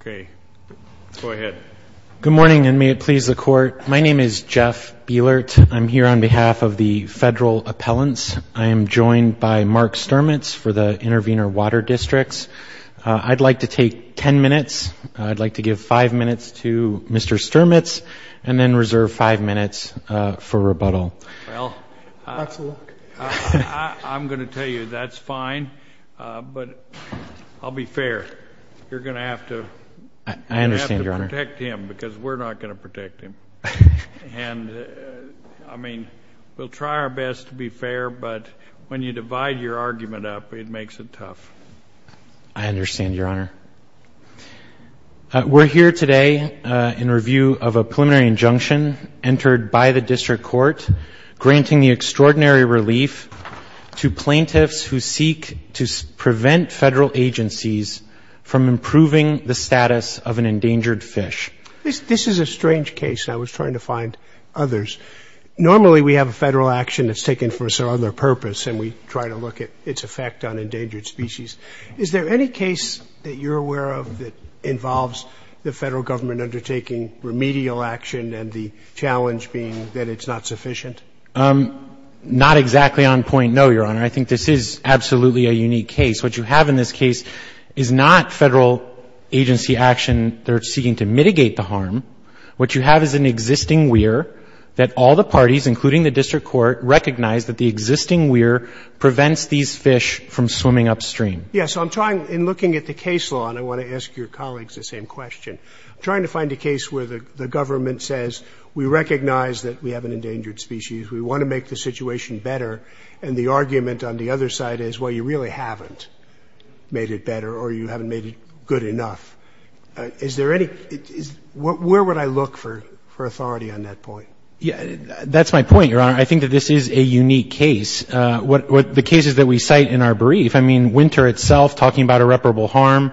Okay, go ahead. Good morning, and may it please the Court. My name is Jeff Bielert. I'm here on behalf of the Federal Appellants. I am joined by Mark Sturmitz for the Intervenor Water Districts. I'd like to take ten minutes. I'd like to give five minutes to Mr. Sturmitz and then reserve five minutes for rebuttal. Well, I'm going to tell you that's fine, but I'll be fair. You're going to have to protect him, because we're not going to protect him. And, I mean, we'll try our best to be fair, but when you divide your argument up, it makes it tough. I understand, Your Honor. We're here today in review of a preliminary injunction entered by the District Court granting the extraordinary relief to plaintiffs who seek to prevent federal agencies from improving the status of an endangered fish. This is a strange case, and I was trying to find others. Normally, we have a federal action that's taken for some other purpose, and we try to look at its effect on endangered species. Is there any case that you're aware of that involves the Federal Government undertaking remedial action and the challenge being that it's not sufficient? Not exactly on point, no, Your Honor. I think this is absolutely a unique case. What you have in this case is not Federal agency action. They're seeking to mitigate the harm. What you have is an existing weir that all the parties, including the District Court, recognize that the existing weir prevents these fish from swimming upstream. Yes. So I'm trying, in looking at the case law, and I want to ask your colleagues the same question, I'm trying to find a case where the government says we recognize that we have an endangered species, we want to make the situation better, and the argument on the other side is, well, you really haven't made it better or you haven't made it good enough. Is there any, where would I look for authority on that point? That's my point, Your Honor. I think that this is a unique case. The cases that we cite in our brief, I mean, winter itself, talking about Boardman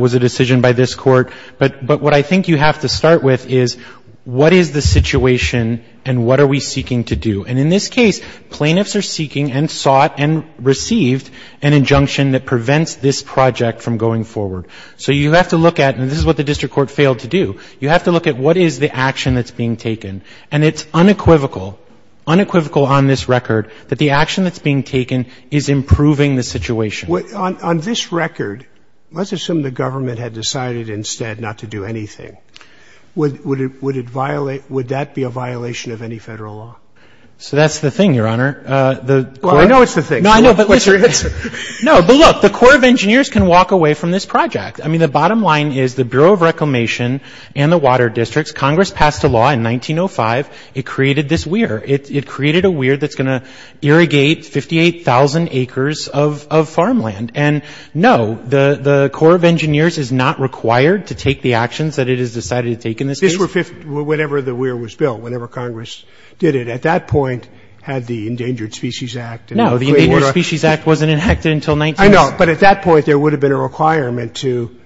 was a decision by this Court. But what I think you have to start with is what is the situation and what are we seeking to do? And in this case, plaintiffs are seeking and sought and received an injunction that prevents this project from going forward. So you have to look at, and this is what the District Court failed to do, you have to look at what is the action that's being taken. And it's unequivocal, unequivocal on this record, that the action that's being taken is improving the situation. On this record, let's assume the government had decided instead not to do anything. Would that be a violation of any federal law? So that's the thing, Your Honor. Well, I know it's the thing. No, but look, the Corps of Engineers can walk away from this project. I mean, the bottom line is the Bureau of Reclamation and the water districts, Congress passed a law in 1905, it created this weir. It created a weir that's going to irrigate 58,000 acres of farmland. And no, the Corps of Engineers is not required to take the actions that it has decided to take in this case. This was whenever the weir was built, whenever Congress did it. At that point, had the Endangered Species Act. No, the Endangered Species Act wasn't enacted until 1906. I know, but at that point, there would have been a requirement to,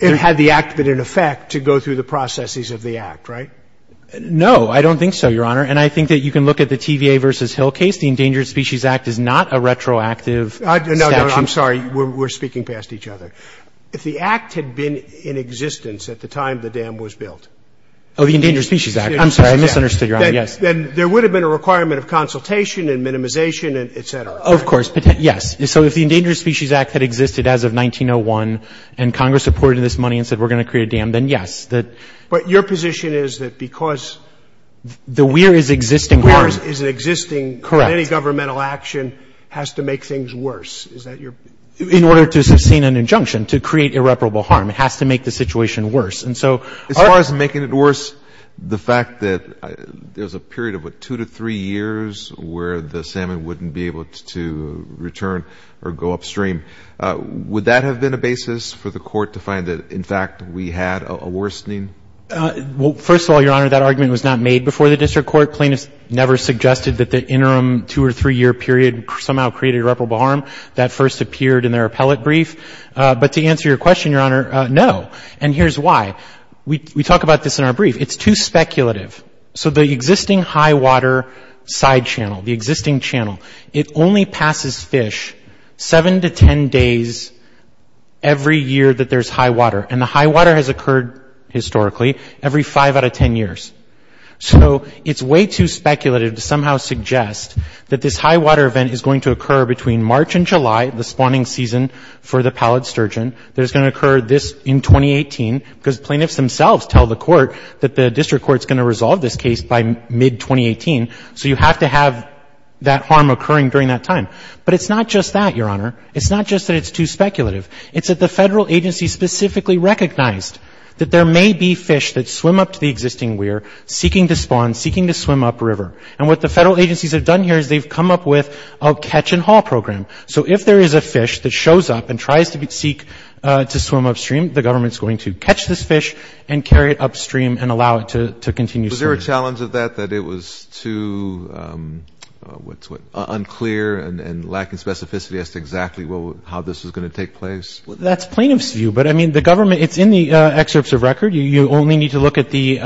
it had the act been in effect, to go through the processes of the act, right? No, I don't think so, Your Honor. And I think that you can look at the TVA v. Hill case. The Endangered Species Act is not a retroactive statute. No, no. I'm sorry. We're speaking past each other. If the act had been in existence at the time the dam was built. Oh, the Endangered Species Act. I'm sorry. I misunderstood, Your Honor. Yes. Then there would have been a requirement of consultation and minimization, et cetera. Of course. Yes. So if the Endangered Species Act had existed as of 1901, and Congress reported this money and said, we're going to create a dam, then yes. But your position is that because the weir is existing. The weir is an existing. Correct. Any governmental action has to make things worse. Is that your? In order to sustain an injunction, to create irreparable harm, it has to make the situation worse. And so our. As far as making it worse, the fact that there's a period of, what, two to three years where the salmon wouldn't be able to return or go upstream, would that have been a basis for the Court to find that, in fact, we had a worsening? Well, first of all, Your Honor, that argument was not made before the district court. Plaintiffs never suggested that the interim two- or three-year period somehow created irreparable harm. That first appeared in their appellate brief. But to answer your question, Your Honor, no. And here's why. We talk about this in our brief. It's too speculative. So the existing high water side channel, the existing channel, it only passes fish seven to ten days every year that there's high water. And the high water has occurred, historically, every five out of ten years. So it's way too speculative to somehow suggest that this high water event is going to occur between March and July, the spawning season for the pallid sturgeon. There's going to occur this in 2018, because plaintiffs themselves tell the Court that the district court's going to resolve this case by mid-2018. So you have to have that harm occurring during that time. But it's not just that, Your Honor. It's not just that it's too speculative. It's that the Federal agency specifically recognized that there may be fish that are seeking to spawn, seeking to swim upriver. And what the Federal agencies have done here is they've come up with a catch-and-haul program. So if there is a fish that shows up and tries to seek to swim upstream, the government's going to catch this fish and carry it upstream and allow it to continue swimming. Was there a challenge of that, that it was too unclear and lacking specificity as to exactly how this was going to take place? That's plaintiff's view. But, I mean, the government, it's in the excerpts of record. You only need to look at the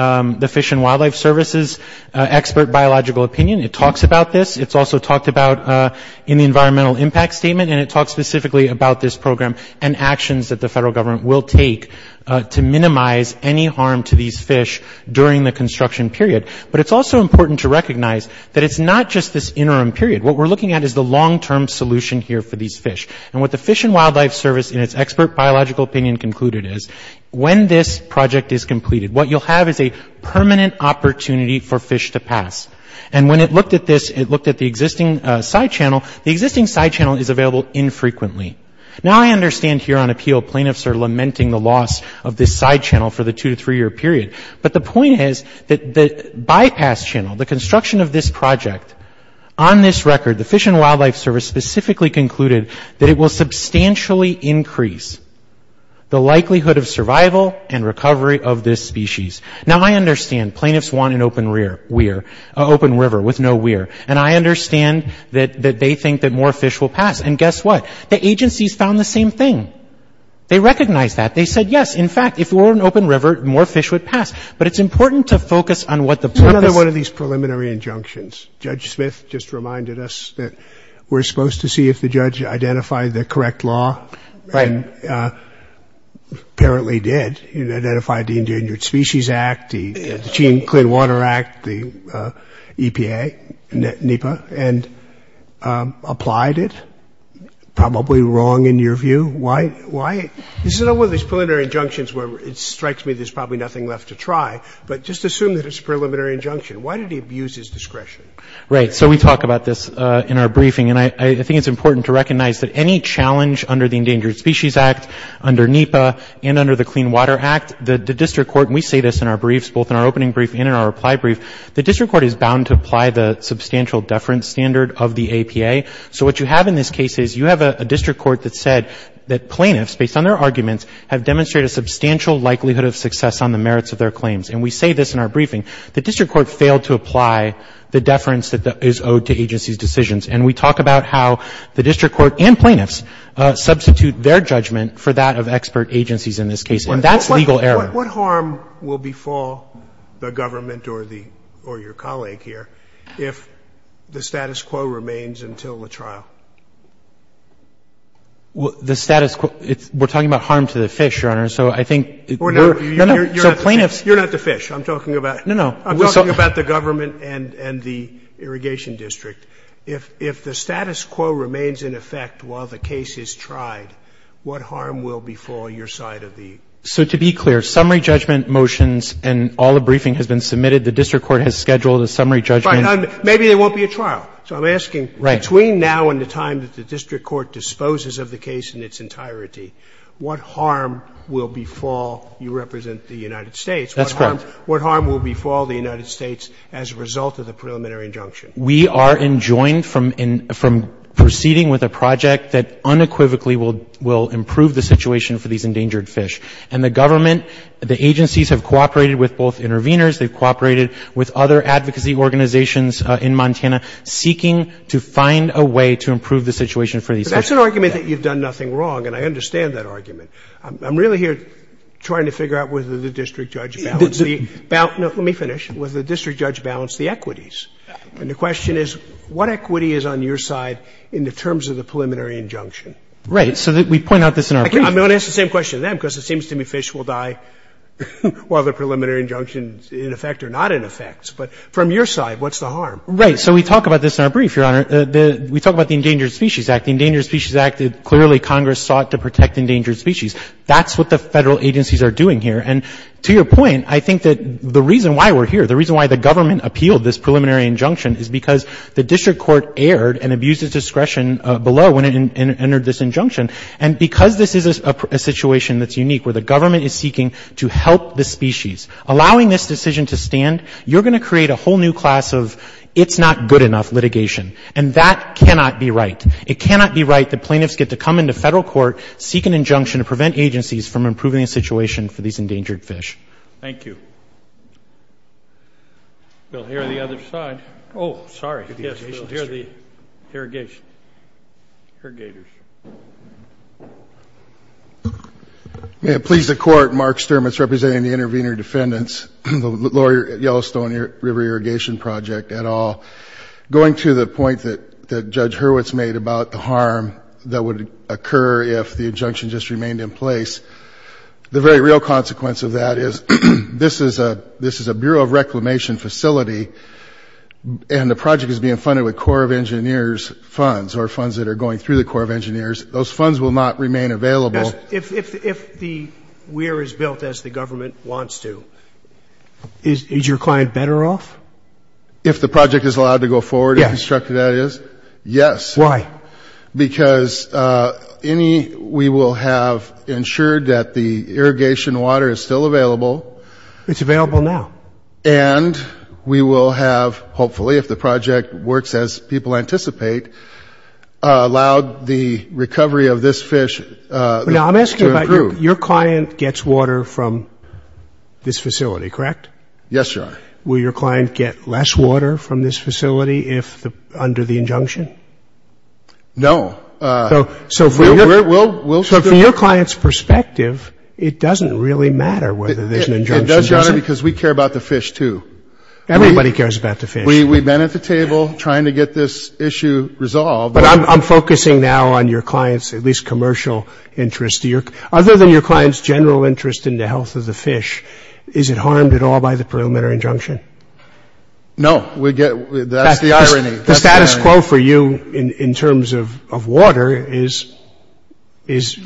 Fish and Wildlife Service's expert biological opinion. It talks about this. It's also talked about in the environmental impact statement. And it talks specifically about this program and actions that the Federal government will take to minimize any harm to these fish during the construction period. But it's also important to recognize that it's not just this interim period. What we're looking at is the long-term solution here for these fish. And what the Fish and Wildlife Service in its expert biological opinion concluded is when this project is completed, what you'll have is a permanent opportunity for fish to pass. And when it looked at this, it looked at the existing side channel. The existing side channel is available infrequently. Now I understand here on appeal, plaintiffs are lamenting the loss of this side channel for the two- to three-year period. But the point is that the bypass channel, the construction of this project, on this record, the Fish and Wildlife Service specifically concluded that it will substantially increase the likelihood of survival and recovery of this species. Now, I understand plaintiffs want an open rear weir, an open river with no weir. And I understand that they think that more fish will pass. And guess what? The agencies found the same thing. They recognized that. They said, yes, in fact, if it were an open river, more fish would pass. But it's important to focus on what the purpose of this is. This just reminded us that we're supposed to see if the judge identified the correct law. Right. Apparently did. He identified the Endangered Species Act, the Clean Water Act, the EPA, NEPA, and applied it. Probably wrong in your view. Why? This is one of those preliminary injunctions where it strikes me there's probably nothing left to try. But just assume that it's a preliminary injunction. Why did he abuse his discretion? Right. So we talk about this in our briefing. And I think it's important to recognize that any challenge under the Endangered Species Act, under NEPA, and under the Clean Water Act, the district court, and we say this in our briefs, both in our opening brief and in our reply brief, the district court is bound to apply the substantial deference standard of the APA. So what you have in this case is you have a district court that said that plaintiffs, based on their arguments, have demonstrated a substantial likelihood of success on the merits of their claims. And we say this in our briefing. The district court failed to apply the deference that is owed to agencies' decisions. And we talk about how the district court and plaintiffs substitute their judgment for that of expert agencies in this case. And that's legal error. What harm will befall the government or the or your colleague here if the status quo remains until the trial? The status quo, we're talking about harm to the fish, Your Honor. So I think we're You're not the fish. I'm talking about No, no. I'm talking about the government and the irrigation district. If the status quo remains in effect while the case is tried, what harm will befall your side of the So to be clear, summary judgment motions and all the briefing has been submitted, the district court has scheduled a summary judgment Right. Maybe there won't be a trial. So I'm asking between now and the time that the district court disposes of the case in its entirety, what harm will befall you represent the United States? That's correct. What harm will befall the United States as a result of the preliminary injunction? We are enjoined from proceeding with a project that unequivocally will improve the situation for these endangered fish. And the government, the agencies have cooperated with both intervenors. They've cooperated with other advocacy organizations in Montana seeking to find a way to improve the situation for these fish. But that's an argument that you've done nothing wrong. And I understand that argument. I'm really here trying to figure out whether the district judge balanced the – let me finish. Whether the district judge balanced the equities. And the question is, what equity is on your side in the terms of the preliminary injunction? Right. So we point out this in our brief. I'm going to ask the same question to them because it seems to me fish will die while the preliminary injunction is in effect or not in effect. But from your side, what's the harm? Right. So we talk about this in our brief, Your Honor. We talk about the Endangered Species Act. The Endangered Species Act, clearly Congress sought to protect endangered species. That's what the federal agencies are doing here. And to your point, I think that the reason why we're here, the reason why the government appealed this preliminary injunction is because the district court erred and abused its discretion below when it entered this injunction. And because this is a situation that's unique, where the government is seeking to help the species, allowing this decision to stand, you're going to create a whole new class of it's not good enough litigation. And that cannot be right. It cannot be right that plaintiffs get to come into federal court, seek an injunction to prevent agencies from improving the situation for these endangered fish. Thank you. Bill, you're on the other side. Oh, sorry. Yes, Bill. You should hear the irrigation. Irrigators. May it please the Court, Mark Sturmitz representing the intervener defendants, the Lower Yellowstone River Irrigation Project et al. Going to the point that Judge Hurwitz made about the harm that would occur if the injunction just remained in place, the very real consequence of that is this is a Bureau of Reclamation facility, and the project is being funded with Corps of Engineers funds or funds that are going through the Corps of Engineers. Those funds will not remain available. Yes. If the weir is built as the government wants to, is your client better off? If the project is allowed to go forward? Yes. In constructed areas? Yes. Why? Because we will have ensured that the irrigation water is still available. It's available now. And we will have, hopefully, if the project works as people anticipate, allowed the recovery of this fish to improve. Now, I'm asking about your client gets water from this facility, correct? Yes, Your Honor. Will your client get less water from this facility under the injunction? No. So from your client's perspective, it doesn't really matter whether there's an injunction. It does, Your Honor, because we care about the fish, too. Everybody cares about the fish. We've been at the table trying to get this issue resolved. But I'm focusing now on your client's at least commercial interest. Other than your client's general interest in the health of the fish, is it harmed at all by the preliminary injunction? No. That's the irony. The status quo for you in terms of water is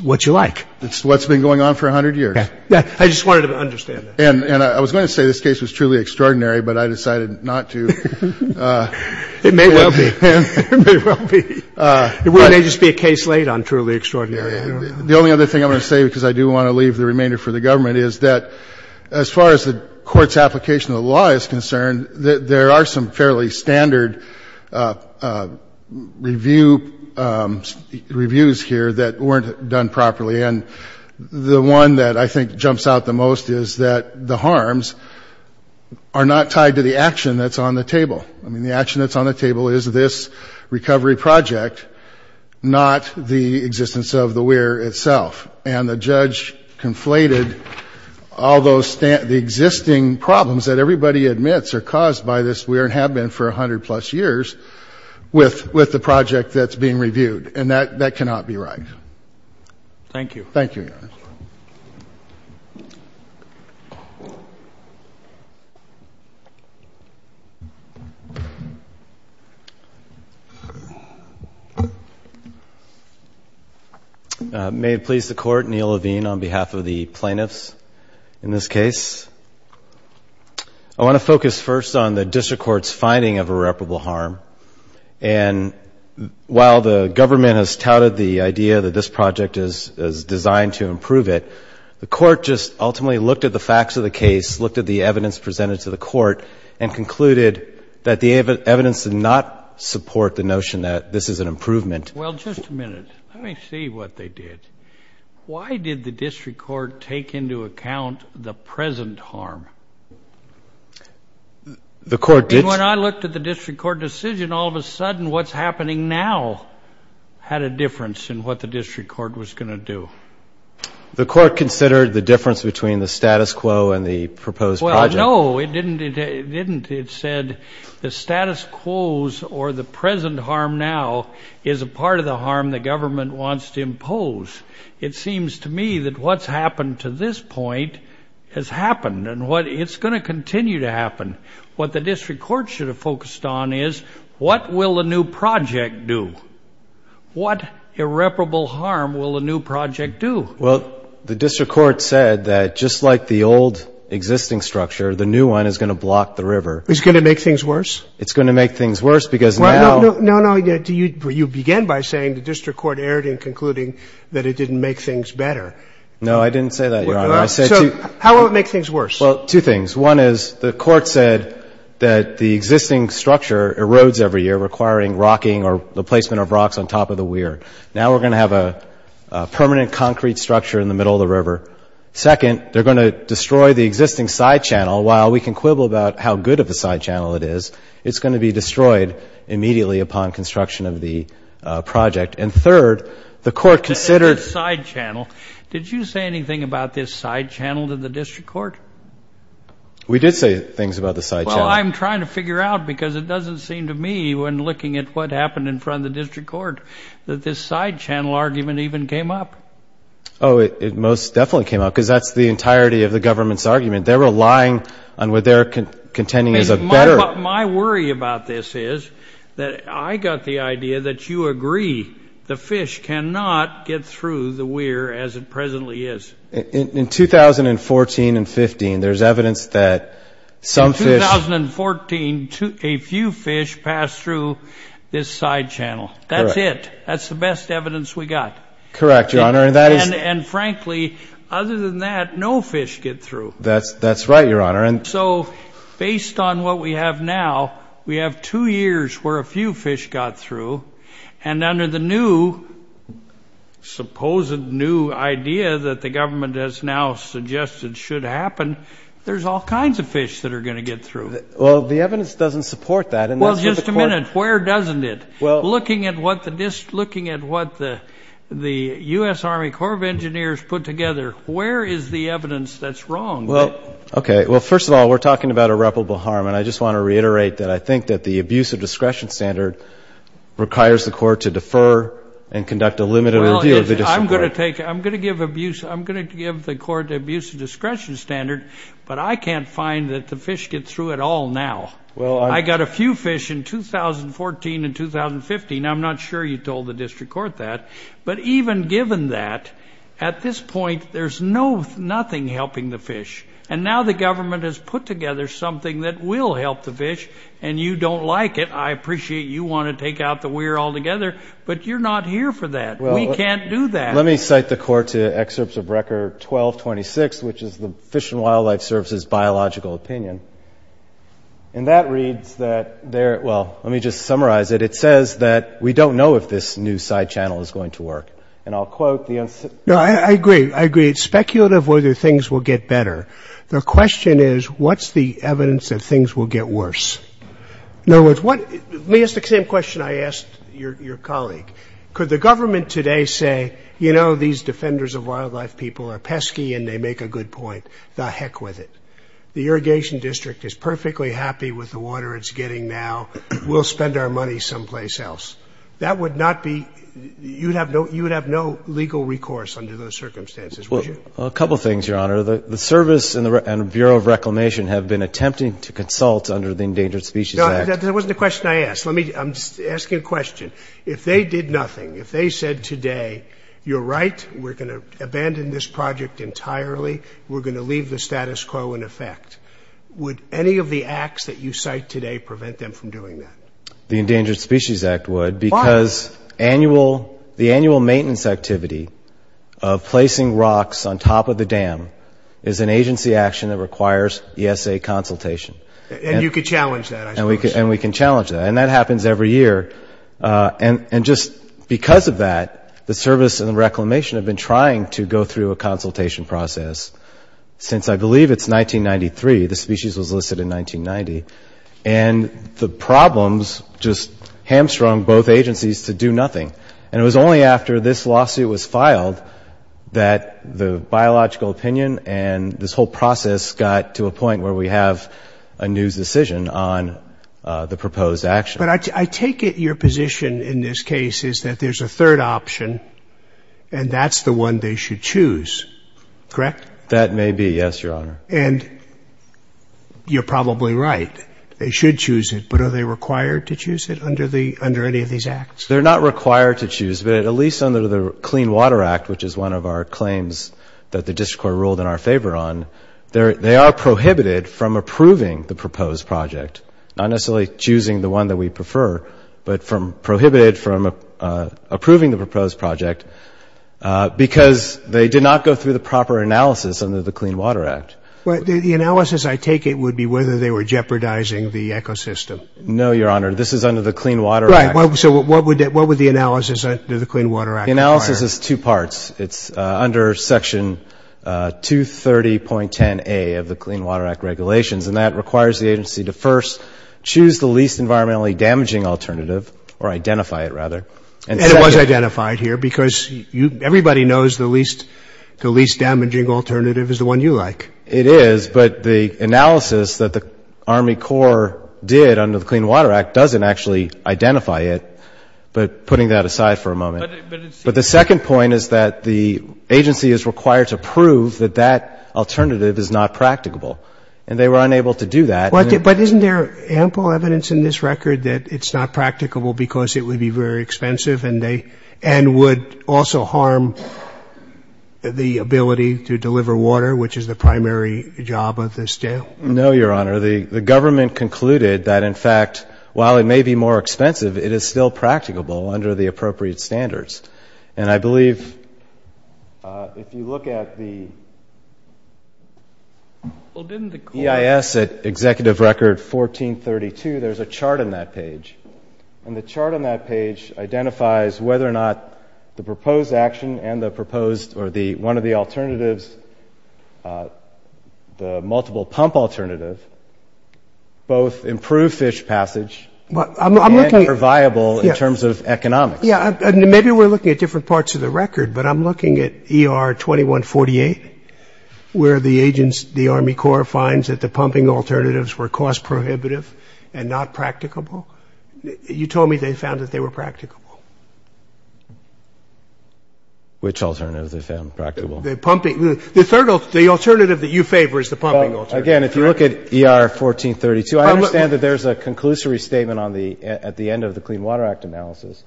what you like. It's what's been going on for 100 years. I just wanted to understand that. And I was going to say this case was truly extraordinary, but I decided not to. It may well be. It may well be. It may just be a case laid on truly extraordinary. The only other thing I'm going to say, because I do want to leave the remainder for the government, is that as far as the court's application of the law is concerned, there are some fairly standard reviews here that weren't done properly. And the one that I think jumps out the most is that the harms are not tied to the action that's on the table. I mean, the action that's on the table is this recovery project, not the existence of the weir itself. And the judge conflated all the existing problems that everybody admits are caused by this weir and have been for 100-plus years with the project that's being reviewed. And that cannot be right. Thank you. Thank you, Your Honor. Thank you. May it please the Court, Neil Levine on behalf of the plaintiffs in this case. I want to focus first on the district court's finding of irreparable harm. And while the government has touted the idea that this project is designed to improve it, the court just ultimately looked at the facts of the case, looked at the evidence presented to the court, and concluded that the evidence did not support the notion that this is an improvement. Well, just a minute. Let me see what they did. Why did the district court take into account the present harm? The court did. And when I looked at the district court decision, all of a sudden what's happening now had a difference in what the district court was going to do. The court considered the difference between the status quo and the proposed project. Well, no, it didn't. It said the status quos or the present harm now is a part of the harm the government wants to impose. It seems to me that what's happened to this point has happened, and it's going to continue to happen. What the district court should have focused on is what will the new project do? What irreparable harm will the new project do? Well, the district court said that just like the old existing structure, the new one is going to block the river. It's going to make things worse? It's going to make things worse because now ‑‑ No, no. You began by saying the district court erred in concluding that it didn't make things better. No, I didn't say that, Your Honor. So how will it make things worse? Well, two things. One is the court said that the existing structure erodes every year, requiring rocking or the placement of rocks on top of the weir. Now we're going to have a permanent concrete structure in the middle of the river. Second, they're going to destroy the existing side channel. While we can quibble about how good of a side channel it is, it's going to be destroyed immediately upon construction of the project. And third, the court considered ‑‑ We did say things about the side channel. Well, I'm trying to figure out because it doesn't seem to me when looking at what happened in front of the district court that this side channel argument even came up. Oh, it most definitely came up because that's the entirety of the government's argument. They're relying on what they're contending is a better ‑‑ My worry about this is that I got the idea that you agree the fish cannot get through the weir as it presently is. In 2014 and 15, there's evidence that some fish ‑‑ In 2014, a few fish passed through this side channel. That's it. That's the best evidence we got. Correct, Your Honor. And frankly, other than that, no fish get through. That's right, Your Honor. So based on what we have now, we have two years where a few fish got through. And under the new, supposed new idea that the government has now suggested should happen, there's all kinds of fish that are going to get through. Well, the evidence doesn't support that. Well, just a minute. Where doesn't it? Looking at what the U.S. Army Corps of Engineers put together, where is the evidence that's wrong? Okay. Well, first of all, we're talking about irreparable harm. And I just want to reiterate that I think that the abuse of discretion standard requires the court to defer and conduct a limited review of the district court. Well, I'm going to give the court the abuse of discretion standard, but I can't find that the fish get through at all now. I got a few fish in 2014 and 2015. I'm not sure you told the district court that. But even given that, at this point, there's nothing helping the fish. And now the government has put together something that will help the fish, and you don't like it. I appreciate you want to take out the we're all together, but you're not here for that. We can't do that. Let me cite the court to excerpts of record 1226, which is the Fish and Wildlife Service's biological opinion. And that reads that there – well, let me just summarize it. It says that we don't know if this new side channel is going to work. And I'll quote the – No, I agree. I agree it's speculative whether things will get better. The question is what's the evidence that things will get worse? In other words, what – let me ask the same question I asked your colleague. Could the government today say, you know, these defenders of wildlife people are pesky and they make a good point? The heck with it. The Irrigation District is perfectly happy with the water it's getting now. We'll spend our money someplace else. That would not be – you would have no legal recourse under those circumstances, would you? Well, a couple things, Your Honor. The Service and the Bureau of Reclamation have been attempting to consult under the Endangered Species Act. No, that wasn't the question I asked. Let me – I'm asking a question. If they did nothing, if they said today, you're right, we're going to abandon this project entirely, we're going to leave the status quo in effect, would any of the acts that you cite today prevent them from doing that? The Endangered Species Act would because annual – the annual maintenance activity of placing rocks on top of the dam is an agency action that requires ESA consultation. And you could challenge that, I suppose. And we can challenge that. And that happens every year. And just because of that, the Service and the Reclamation have been trying to go through a consultation process since, I believe, it's 1993. The species was listed in 1990. And the problems just hamstrung both agencies to do nothing. And it was only after this lawsuit was filed that the biological opinion and this whole process got to a point where we have a new decision on the proposed action. But I take it your position in this case is that there's a third option, and that's the one they should choose, correct? That may be, yes, Your Honor. And you're probably right. They should choose it. But are they required to choose it under any of these acts? They're not required to choose, but at least under the Clean Water Act, which is one of our claims that the district court ruled in our favor on, they are prohibited from approving the proposed project, not necessarily choosing the one that we prefer, but prohibited from approving the proposed project because they did not go through the proper analysis under the Clean Water Act. The analysis I take it would be whether they were jeopardizing the ecosystem. No, Your Honor. This is under the Clean Water Act. Right. So what would the analysis under the Clean Water Act require? The analysis is two parts. It's under Section 230.10a of the Clean Water Act regulations, and that requires the agency to first choose the least environmentally damaging alternative, or identify it, rather. And it was identified here because everybody knows the least damaging alternative is the one you like. It is, but the analysis that the Army Corps did under the Clean Water Act doesn't actually identify it, but putting that aside for a moment. But the second point is that the agency is required to prove that that alternative is not practicable, and they were unable to do that. But isn't there ample evidence in this record that it's not practicable because it would be very expensive and would also harm the ability to deliver water, which is the primary job of this jail? No, Your Honor. The government concluded that, in fact, while it may be more expensive, it is still practicable under the appropriate standards. And I believe if you look at the EIS at Executive Record 1432, there's a chart on that page. And the chart on that page identifies whether or not the proposed action and the proposed or one of the alternatives, the multiple pump alternative, both improve fish passage and are viable in terms of economics. Yeah, maybe we're looking at different parts of the record, but I'm looking at ER 2148, where the Army Corps finds that the pumping alternatives were cost-prohibitive and not practicable. You told me they found that they were practicable. Which alternatives they found practicable? The pumping. The alternative that you favor is the pumping alternative. Again, if you look at ER 1432, I understand that there's a conclusory statement at the end of the Clean Water Act analysis.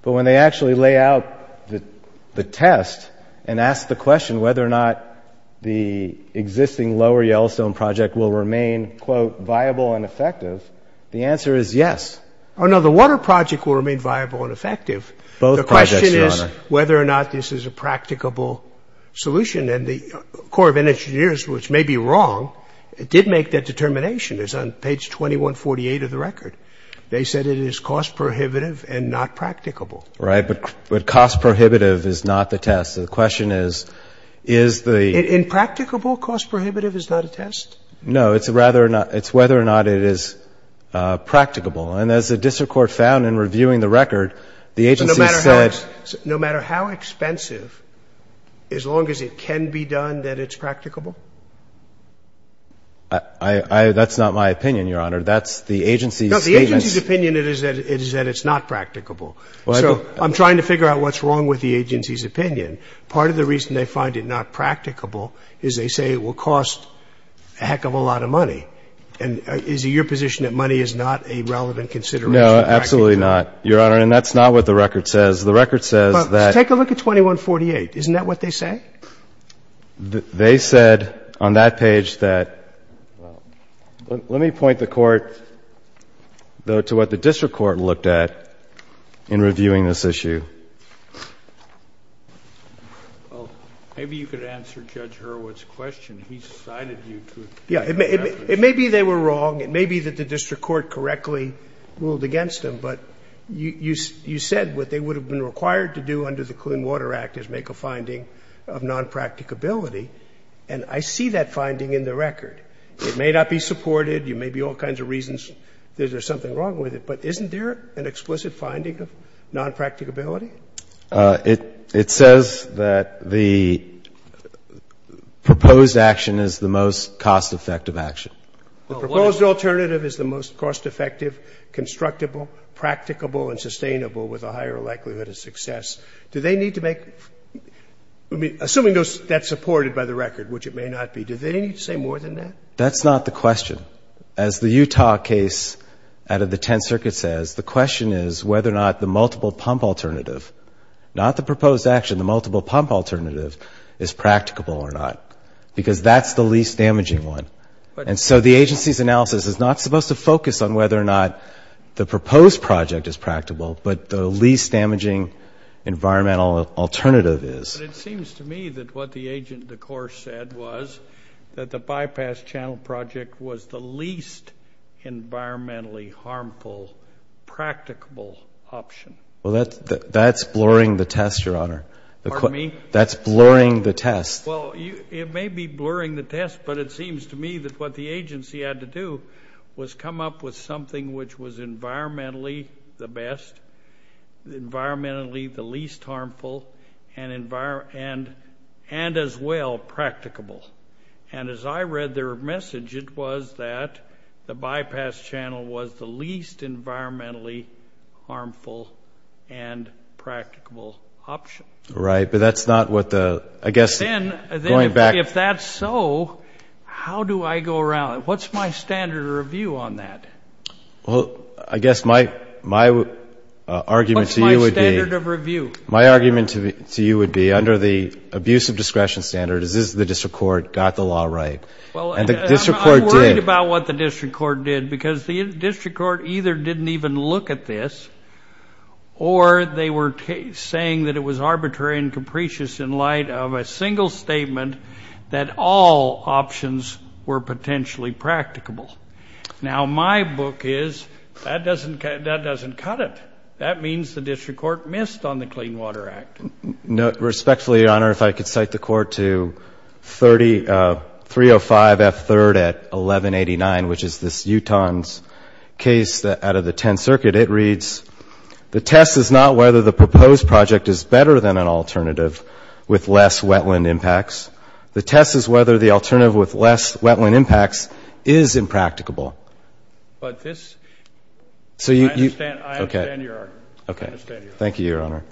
But when they actually lay out the test and ask the question whether or not the existing lower Yellowstone project will remain, quote, viable and effective, the answer is yes. Oh, no, the water project will remain viable and effective. Both projects, Your Honor. The question is whether or not this is a practicable solution. And the Corps of Engineers, which may be wrong, did make that determination. It's on page 2148 of the record. They said it is cost-prohibitive and not practicable. Right, but cost-prohibitive is not the test. The question is, is the — And practicable cost-prohibitive is not a test? No, it's whether or not it is practicable. And as the district court found in reviewing the record, the agency said — So no matter how expensive, as long as it can be done, that it's practicable? That's not my opinion, Your Honor. That's the agency's — No, the agency's opinion is that it's not practicable. So I'm trying to figure out what's wrong with the agency's opinion. Part of the reason they find it not practicable is they say it will cost a heck of a lot of money. And is it your position that money is not a relevant consideration? No, absolutely not, Your Honor. And that's not what the record says. The record says that — Take a look at 2148. Isn't that what they say? They said on that page that — let me point the Court, though, to what the district court looked at in reviewing this issue. Well, maybe you could answer Judge Hurwitz's question. He cited you to — Yeah. It may be they were wrong. It may be that the district court correctly ruled against them. But you said what they would have been required to do under the Clean Water Act is make a finding of nonpracticability. And I see that finding in the record. It may not be supported. There may be all kinds of reasons that there's something wrong with it. But isn't there an explicit finding of nonpracticability? It says that the proposed action is the most cost-effective action. The proposed alternative is the most cost-effective, constructible, practicable, and sustainable with a higher likelihood of success. Do they need to make — assuming that's supported by the record, which it may not be, do they need to say more than that? That's not the question. As the Utah case out of the Tenth Circuit says, the question is whether or not the multiple pump alternative, not the proposed action, the multiple pump alternative, is practicable or not, because that's the least damaging one. And so the agency's analysis is not supposed to focus on whether or not the proposed project is practicable, but the least damaging environmental alternative is. But it seems to me that what the agent of the court said was that the bypass channel project was the least environmentally harmful, practicable option. Well, that's blurring the test, Your Honor. Pardon me? That's blurring the test. Well, it may be blurring the test, but it seems to me that what the agency had to do was come up with something which was environmentally the best, environmentally the least harmful, and as well, practicable. And as I read their message, it was that the bypass channel was the least environmentally harmful and practicable option. Right, but that's not what the — I guess going back — If that's so, how do I go around? What's my standard of review on that? Well, I guess my argument to you would be — What's my standard of review? My argument to you would be, under the abuse of discretion standard, is this the district court got the law right? And the district court did. Well, I'm worried about what the district court did, because the district court either didn't even look at this or they were saying that it was arbitrary and capricious in light of a single statement that all options were potentially practicable. Now, my book is, that doesn't cut it. That means the district court missed on the Clean Water Act. Respectfully, Your Honor, if I could cite the court to 305 F. 3rd at 1189, which is this Utahn's case out of the Tenth Circuit, it reads, The test is not whether the proposed project is better than an alternative with less wetland impacts. The test is whether the alternative with less wetland impacts is impracticable. But this — So you — I understand your argument. Okay. I understand your argument. Thank you, Your Honor.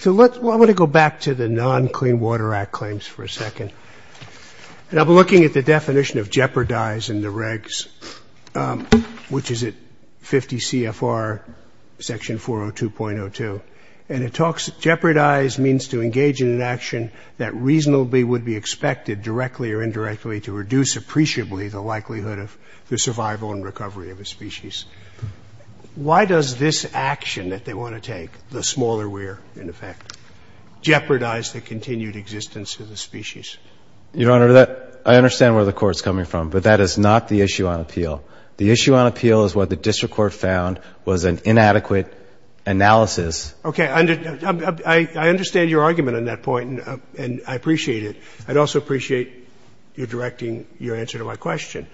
So let's — well, I want to go back to the non-Clean Water Act claims for a second. And I'll be looking at the definition of jeopardize in the regs, which is at 50 CFR section 402.02. And it talks — jeopardize means to engage in an action that reasonably would be expected, directly or indirectly, to reduce appreciably the likelihood of the survival and recovery of a species. Why does this action that they want to take, the smaller weir, in effect, jeopardize the continued existence of the species? Your Honor, that — I understand where the Court's coming from. But that is not the issue on appeal. The issue on appeal is what the district court found was an inadequate analysis. Okay. I understand your argument on that point, and I appreciate it. I'd also appreciate your directing your answer to my question.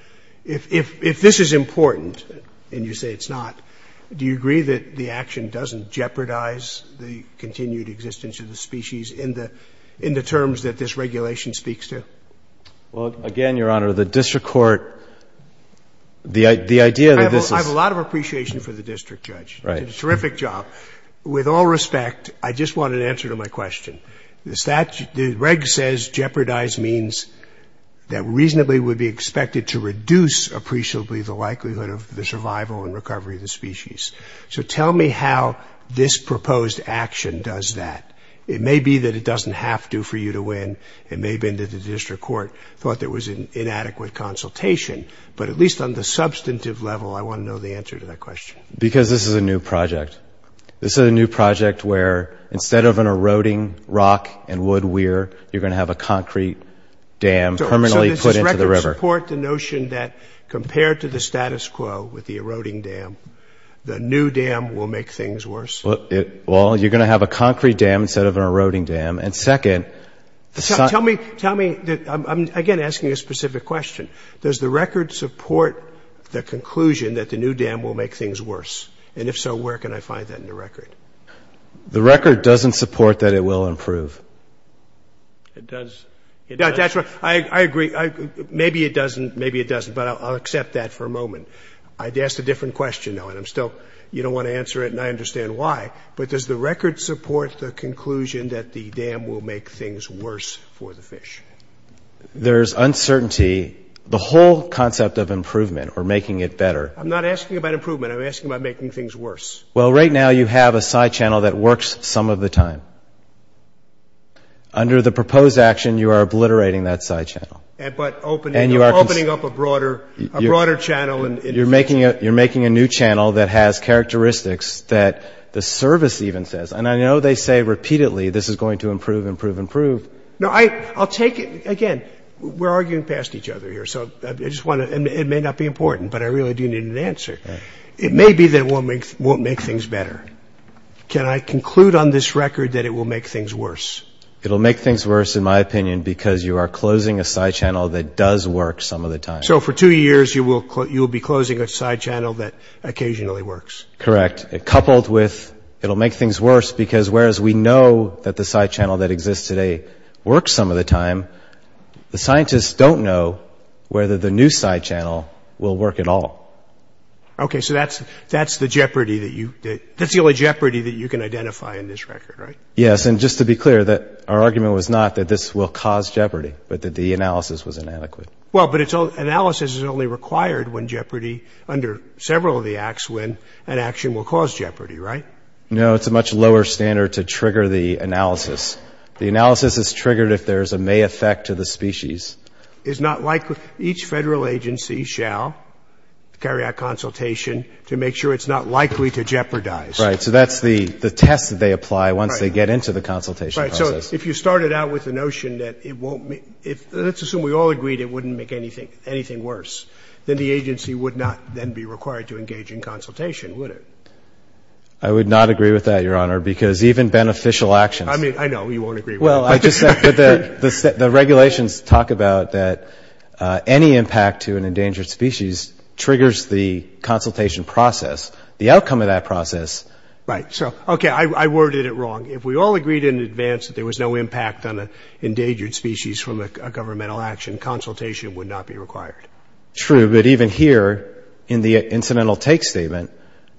If this is important and you say it's not, do you agree that the action doesn't jeopardize the continued existence of the species in the — in the terms that this regulation speaks to? Well, again, Your Honor, the district court — the idea that this is — I have a lot of appreciation for the district judge. Right. He did a terrific job. With all respect, I just want an answer to my question. The reg says jeopardize means that reasonably would be expected to reduce appreciably the likelihood of the survival and recovery of the species. So tell me how this proposed action does that. It may be that it doesn't have to for you to win. It may have been that the district court thought there was an inadequate consultation. But at least on the substantive level, I want to know the answer to that question. Because this is a new project. This is a new project where instead of an eroding rock and wood weir, you're going to have a concrete dam permanently put into the river. So does this record support the notion that compared to the status quo with the eroding dam, the new dam will make things worse? Well, you're going to have a concrete dam instead of an eroding dam. And second — Tell me — tell me — I'm, again, asking a specific question. Does the record support the conclusion that the new dam will make things worse? And if so, where can I find that in the record? The record doesn't support that it will improve. It does. I agree. Maybe it doesn't. Maybe it doesn't. But I'll accept that for a moment. I asked a different question, though, and I'm still — you don't want to answer it, and I understand why. But does the record support the conclusion that the dam will make things worse for the fish? There's uncertainty. The whole concept of improvement or making it better — I'm not asking about improvement. I'm asking about making things worse. Well, right now, you have a side channel that works some of the time. Under the proposed action, you are obliterating that side channel. But opening up a broader channel. You're making a new channel that has characteristics that the service even says. And I know they say repeatedly this is going to improve, improve, improve. No, I'll take it — again, we're arguing past each other here, so I just want to — It may be that it won't make things better. Can I conclude on this record that it will make things worse? It'll make things worse, in my opinion, because you are closing a side channel that does work some of the time. So for two years, you will be closing a side channel that occasionally works? Correct. Coupled with it'll make things worse because whereas we know that the side channel that exists today works some of the time, the scientists don't know whether the new side channel will work at all. Okay. So that's the jeopardy that you — that's the only jeopardy that you can identify in this record, right? Yes. And just to be clear, our argument was not that this will cause jeopardy, but that the analysis was inadequate. Well, but analysis is only required when jeopardy, under several of the acts, when an action will cause jeopardy, right? No, it's a much lower standard to trigger the analysis. The analysis is triggered if there is a may effect to the species. Each Federal agency shall carry out consultation to make sure it's not likely to jeopardize. Right. So that's the test that they apply once they get into the consultation process. Right. So if you started out with the notion that it won't — let's assume we all agreed it wouldn't make anything worse, then the agency would not then be required to engage in consultation, would it? I would not agree with that, Your Honor, because even beneficial actions — I mean, I know you won't agree with that. Well, I just — the regulations talk about that any impact to an endangered species triggers the consultation process. The outcome of that process — Right. So, okay, I worded it wrong. If we all agreed in advance that there was no impact on an endangered species from a governmental action, consultation would not be required. True. But even here, in the incidental take statement,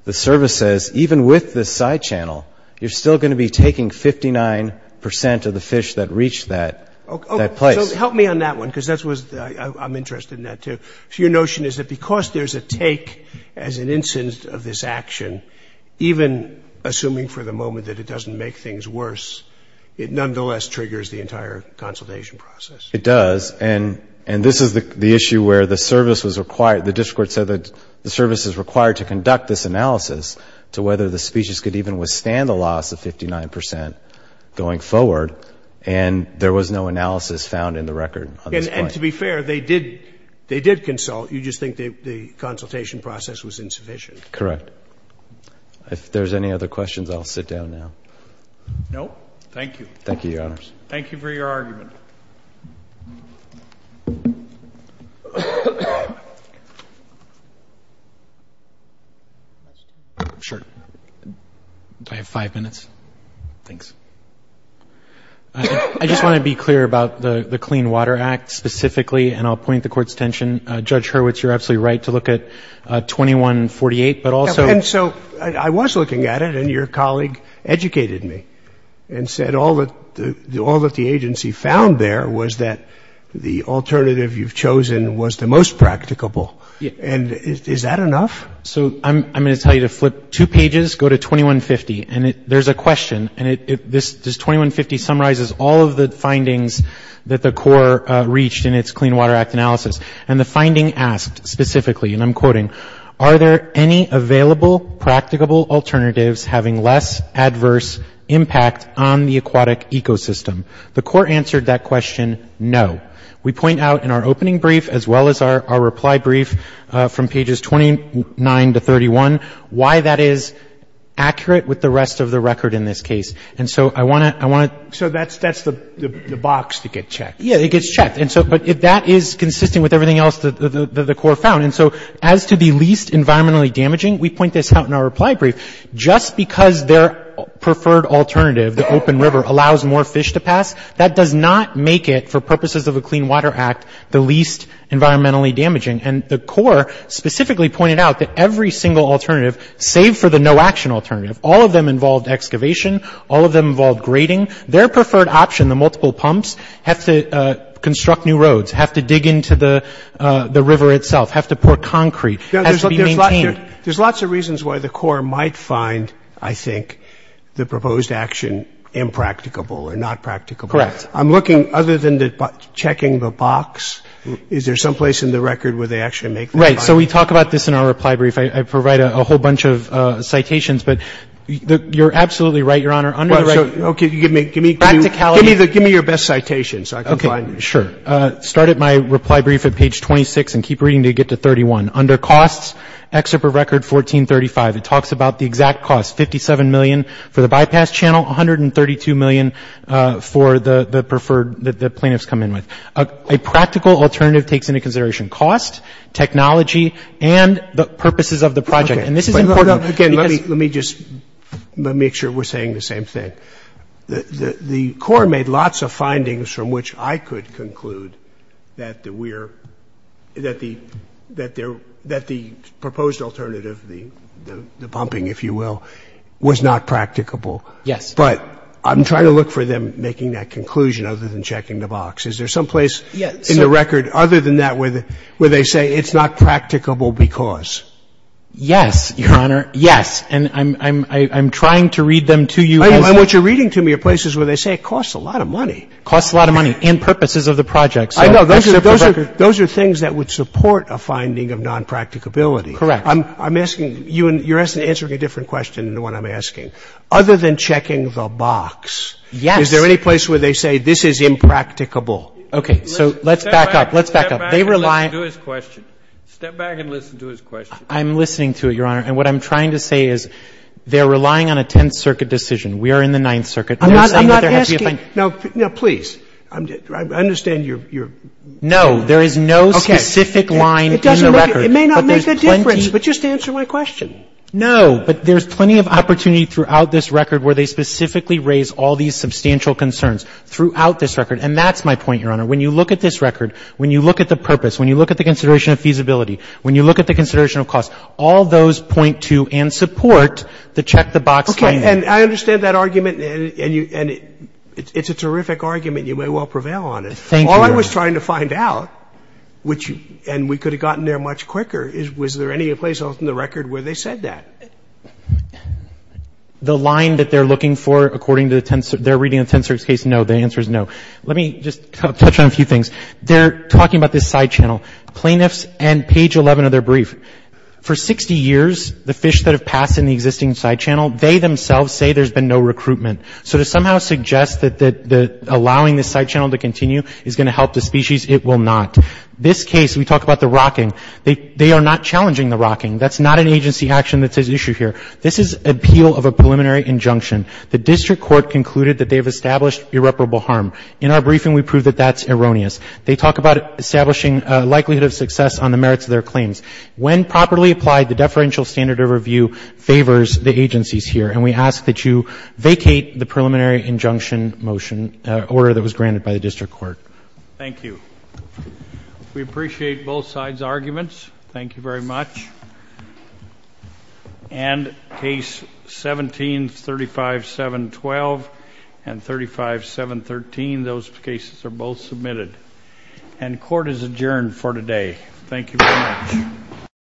the service says, even with this side channel, you're still going to be taking 59 percent of the fish that reach that place. So help me on that one, because that's what — I'm interested in that, too. So your notion is that because there's a take as an instance of this action, even assuming for the moment that it doesn't make things worse, it nonetheless triggers the entire consultation process. It does. And this is the issue where the service was required — the district court said that the service is required to conduct this analysis to whether the species could even withstand the loss of 59 percent going forward, and there was no analysis found in the record on this point. And to be fair, they did consult. You just think the consultation process was insufficient. Correct. If there's any other questions, I'll sit down now. No. Thank you. Thank you, Your Honors. Thank you for your argument. I just want to be clear about the Clean Water Act specifically, and I'll point the Court's attention. Judge Hurwitz, you're absolutely right to look at 2148, but also — And so I was looking at it, and your colleague educated me and said all that the agency found there was that the alternative you've chosen was the most practicable. And is that enough? So I'm going to tell you to flip two pages, go to 2150, and there's a question, and this 2150 summarizes all of the findings that the Court reached in its Clean Water Act analysis. And the finding asked specifically, and I'm quoting, are there any available practicable alternatives having less adverse impact on the aquatic ecosystem? The Court answered that question, no. We point out in our opening brief, as well as our reply brief from pages 29 to 31, why that is accurate with the rest of the record in this case. And so I want to — So that's the box to get checked. Yeah, it gets checked. But that is consistent with everything else that the Court found. And so as to the least environmentally damaging, we point this out in our reply brief. Just because their preferred alternative, the open river, allows more fish to pass, that does not make it, for purposes of a Clean Water Act, the least environmentally damaging. And the Corps specifically pointed out that every single alternative, save for the no-action alternative, all of them involved excavation, all of them involved grading. Their preferred option, the multiple pumps, have to construct new roads, have to dig into the river itself, have to pour concrete, have to be maintained. There's lots of reasons why the Corps might find, I think, the proposed action impracticable or not practicable. Correct. I'm looking, other than checking the box, is there some place in the record where they actually make that point? Right. So we talk about this in our reply brief. I provide a whole bunch of citations. But you're absolutely right, Your Honor. Under the right — Well, so, okay, give me — Practicality. Give me your best citation so I can find it. Sure. Start at my reply brief at page 26 and keep reading until you get to 31. Under costs, excerpt of record 1435, it talks about the exact cost, 57 million for the bypass channel, 132 million for the preferred that the plaintiffs come in with. A practical alternative takes into consideration cost, technology, and the purposes of the project. And this is important because — Okay. Let me just — let me make sure we're saying the same thing. The Court made lots of findings from which I could conclude that the — that the proposed alternative, the pumping, if you will, was not practicable. Yes. But I'm trying to look for them making that conclusion other than checking the box. Is there some place in the record other than that where they say it's not practicable because? Yes, Your Honor, yes. And I'm trying to read them to you as — And what you're reading to me are places where they say it costs a lot of money. It costs a lot of money and purposes of the project. I know. Those are things that would support a finding of non-practicability. Correct. I'm asking — you're answering a different question than the one I'm asking. Other than checking the box — Yes. Is there any place where they say this is impracticable? Okay. So let's back up. Let's back up. They rely — Step back and listen to his question. Step back and listen to his question. I'm listening to it, Your Honor. And what I'm trying to say is they're relying on a Tenth Circuit decision. We are in the Ninth Circuit. I'm not asking — Now, please. I understand you're — No. There is no specific line in the record. It may not make a difference, but just answer my question. No. But there's plenty of opportunity throughout this record where they specifically raise all these substantial concerns throughout this record. And that's my point, Your Honor. When you look at this record, when you look at the purpose, when you look at the consideration of feasibility, when you look at the consideration of cost, all those point to and support the check-the-box claim. Okay. And I understand that argument. And you — and it's a terrific argument. You may well prevail on it. Thank you, Your Honor. All I was trying to find out, which — and we could have gotten there much quicker is was there any place else in the record where they said that? The line that they're looking for according to the — they're reading the Tenth Circuit's case, no. The answer is no. Let me just touch on a few things. They're talking about this side channel. Plaintiffs and page 11 of their brief, for 60 years the fish that have passed in the existing side channel, they themselves say there's been no recruitment. So to somehow suggest that allowing the side channel to continue is going to help the species, it will not. This case, we talk about the rocking. They are not challenging the rocking. That's not an agency action that's at issue here. This is appeal of a preliminary injunction. The district court concluded that they have established irreparable harm. In our briefing, we prove that that's erroneous. They talk about establishing a likelihood of success on the merits of their claims. When properly applied, the deferential standard of review favors the agencies here. And we ask that you vacate the preliminary injunction motion, order that was granted by the district court. Thank you. We appreciate both sides' arguments. Thank you very much. And case 1735712 and 35713, those cases are both submitted. And court is adjourned for today. Thank you very much.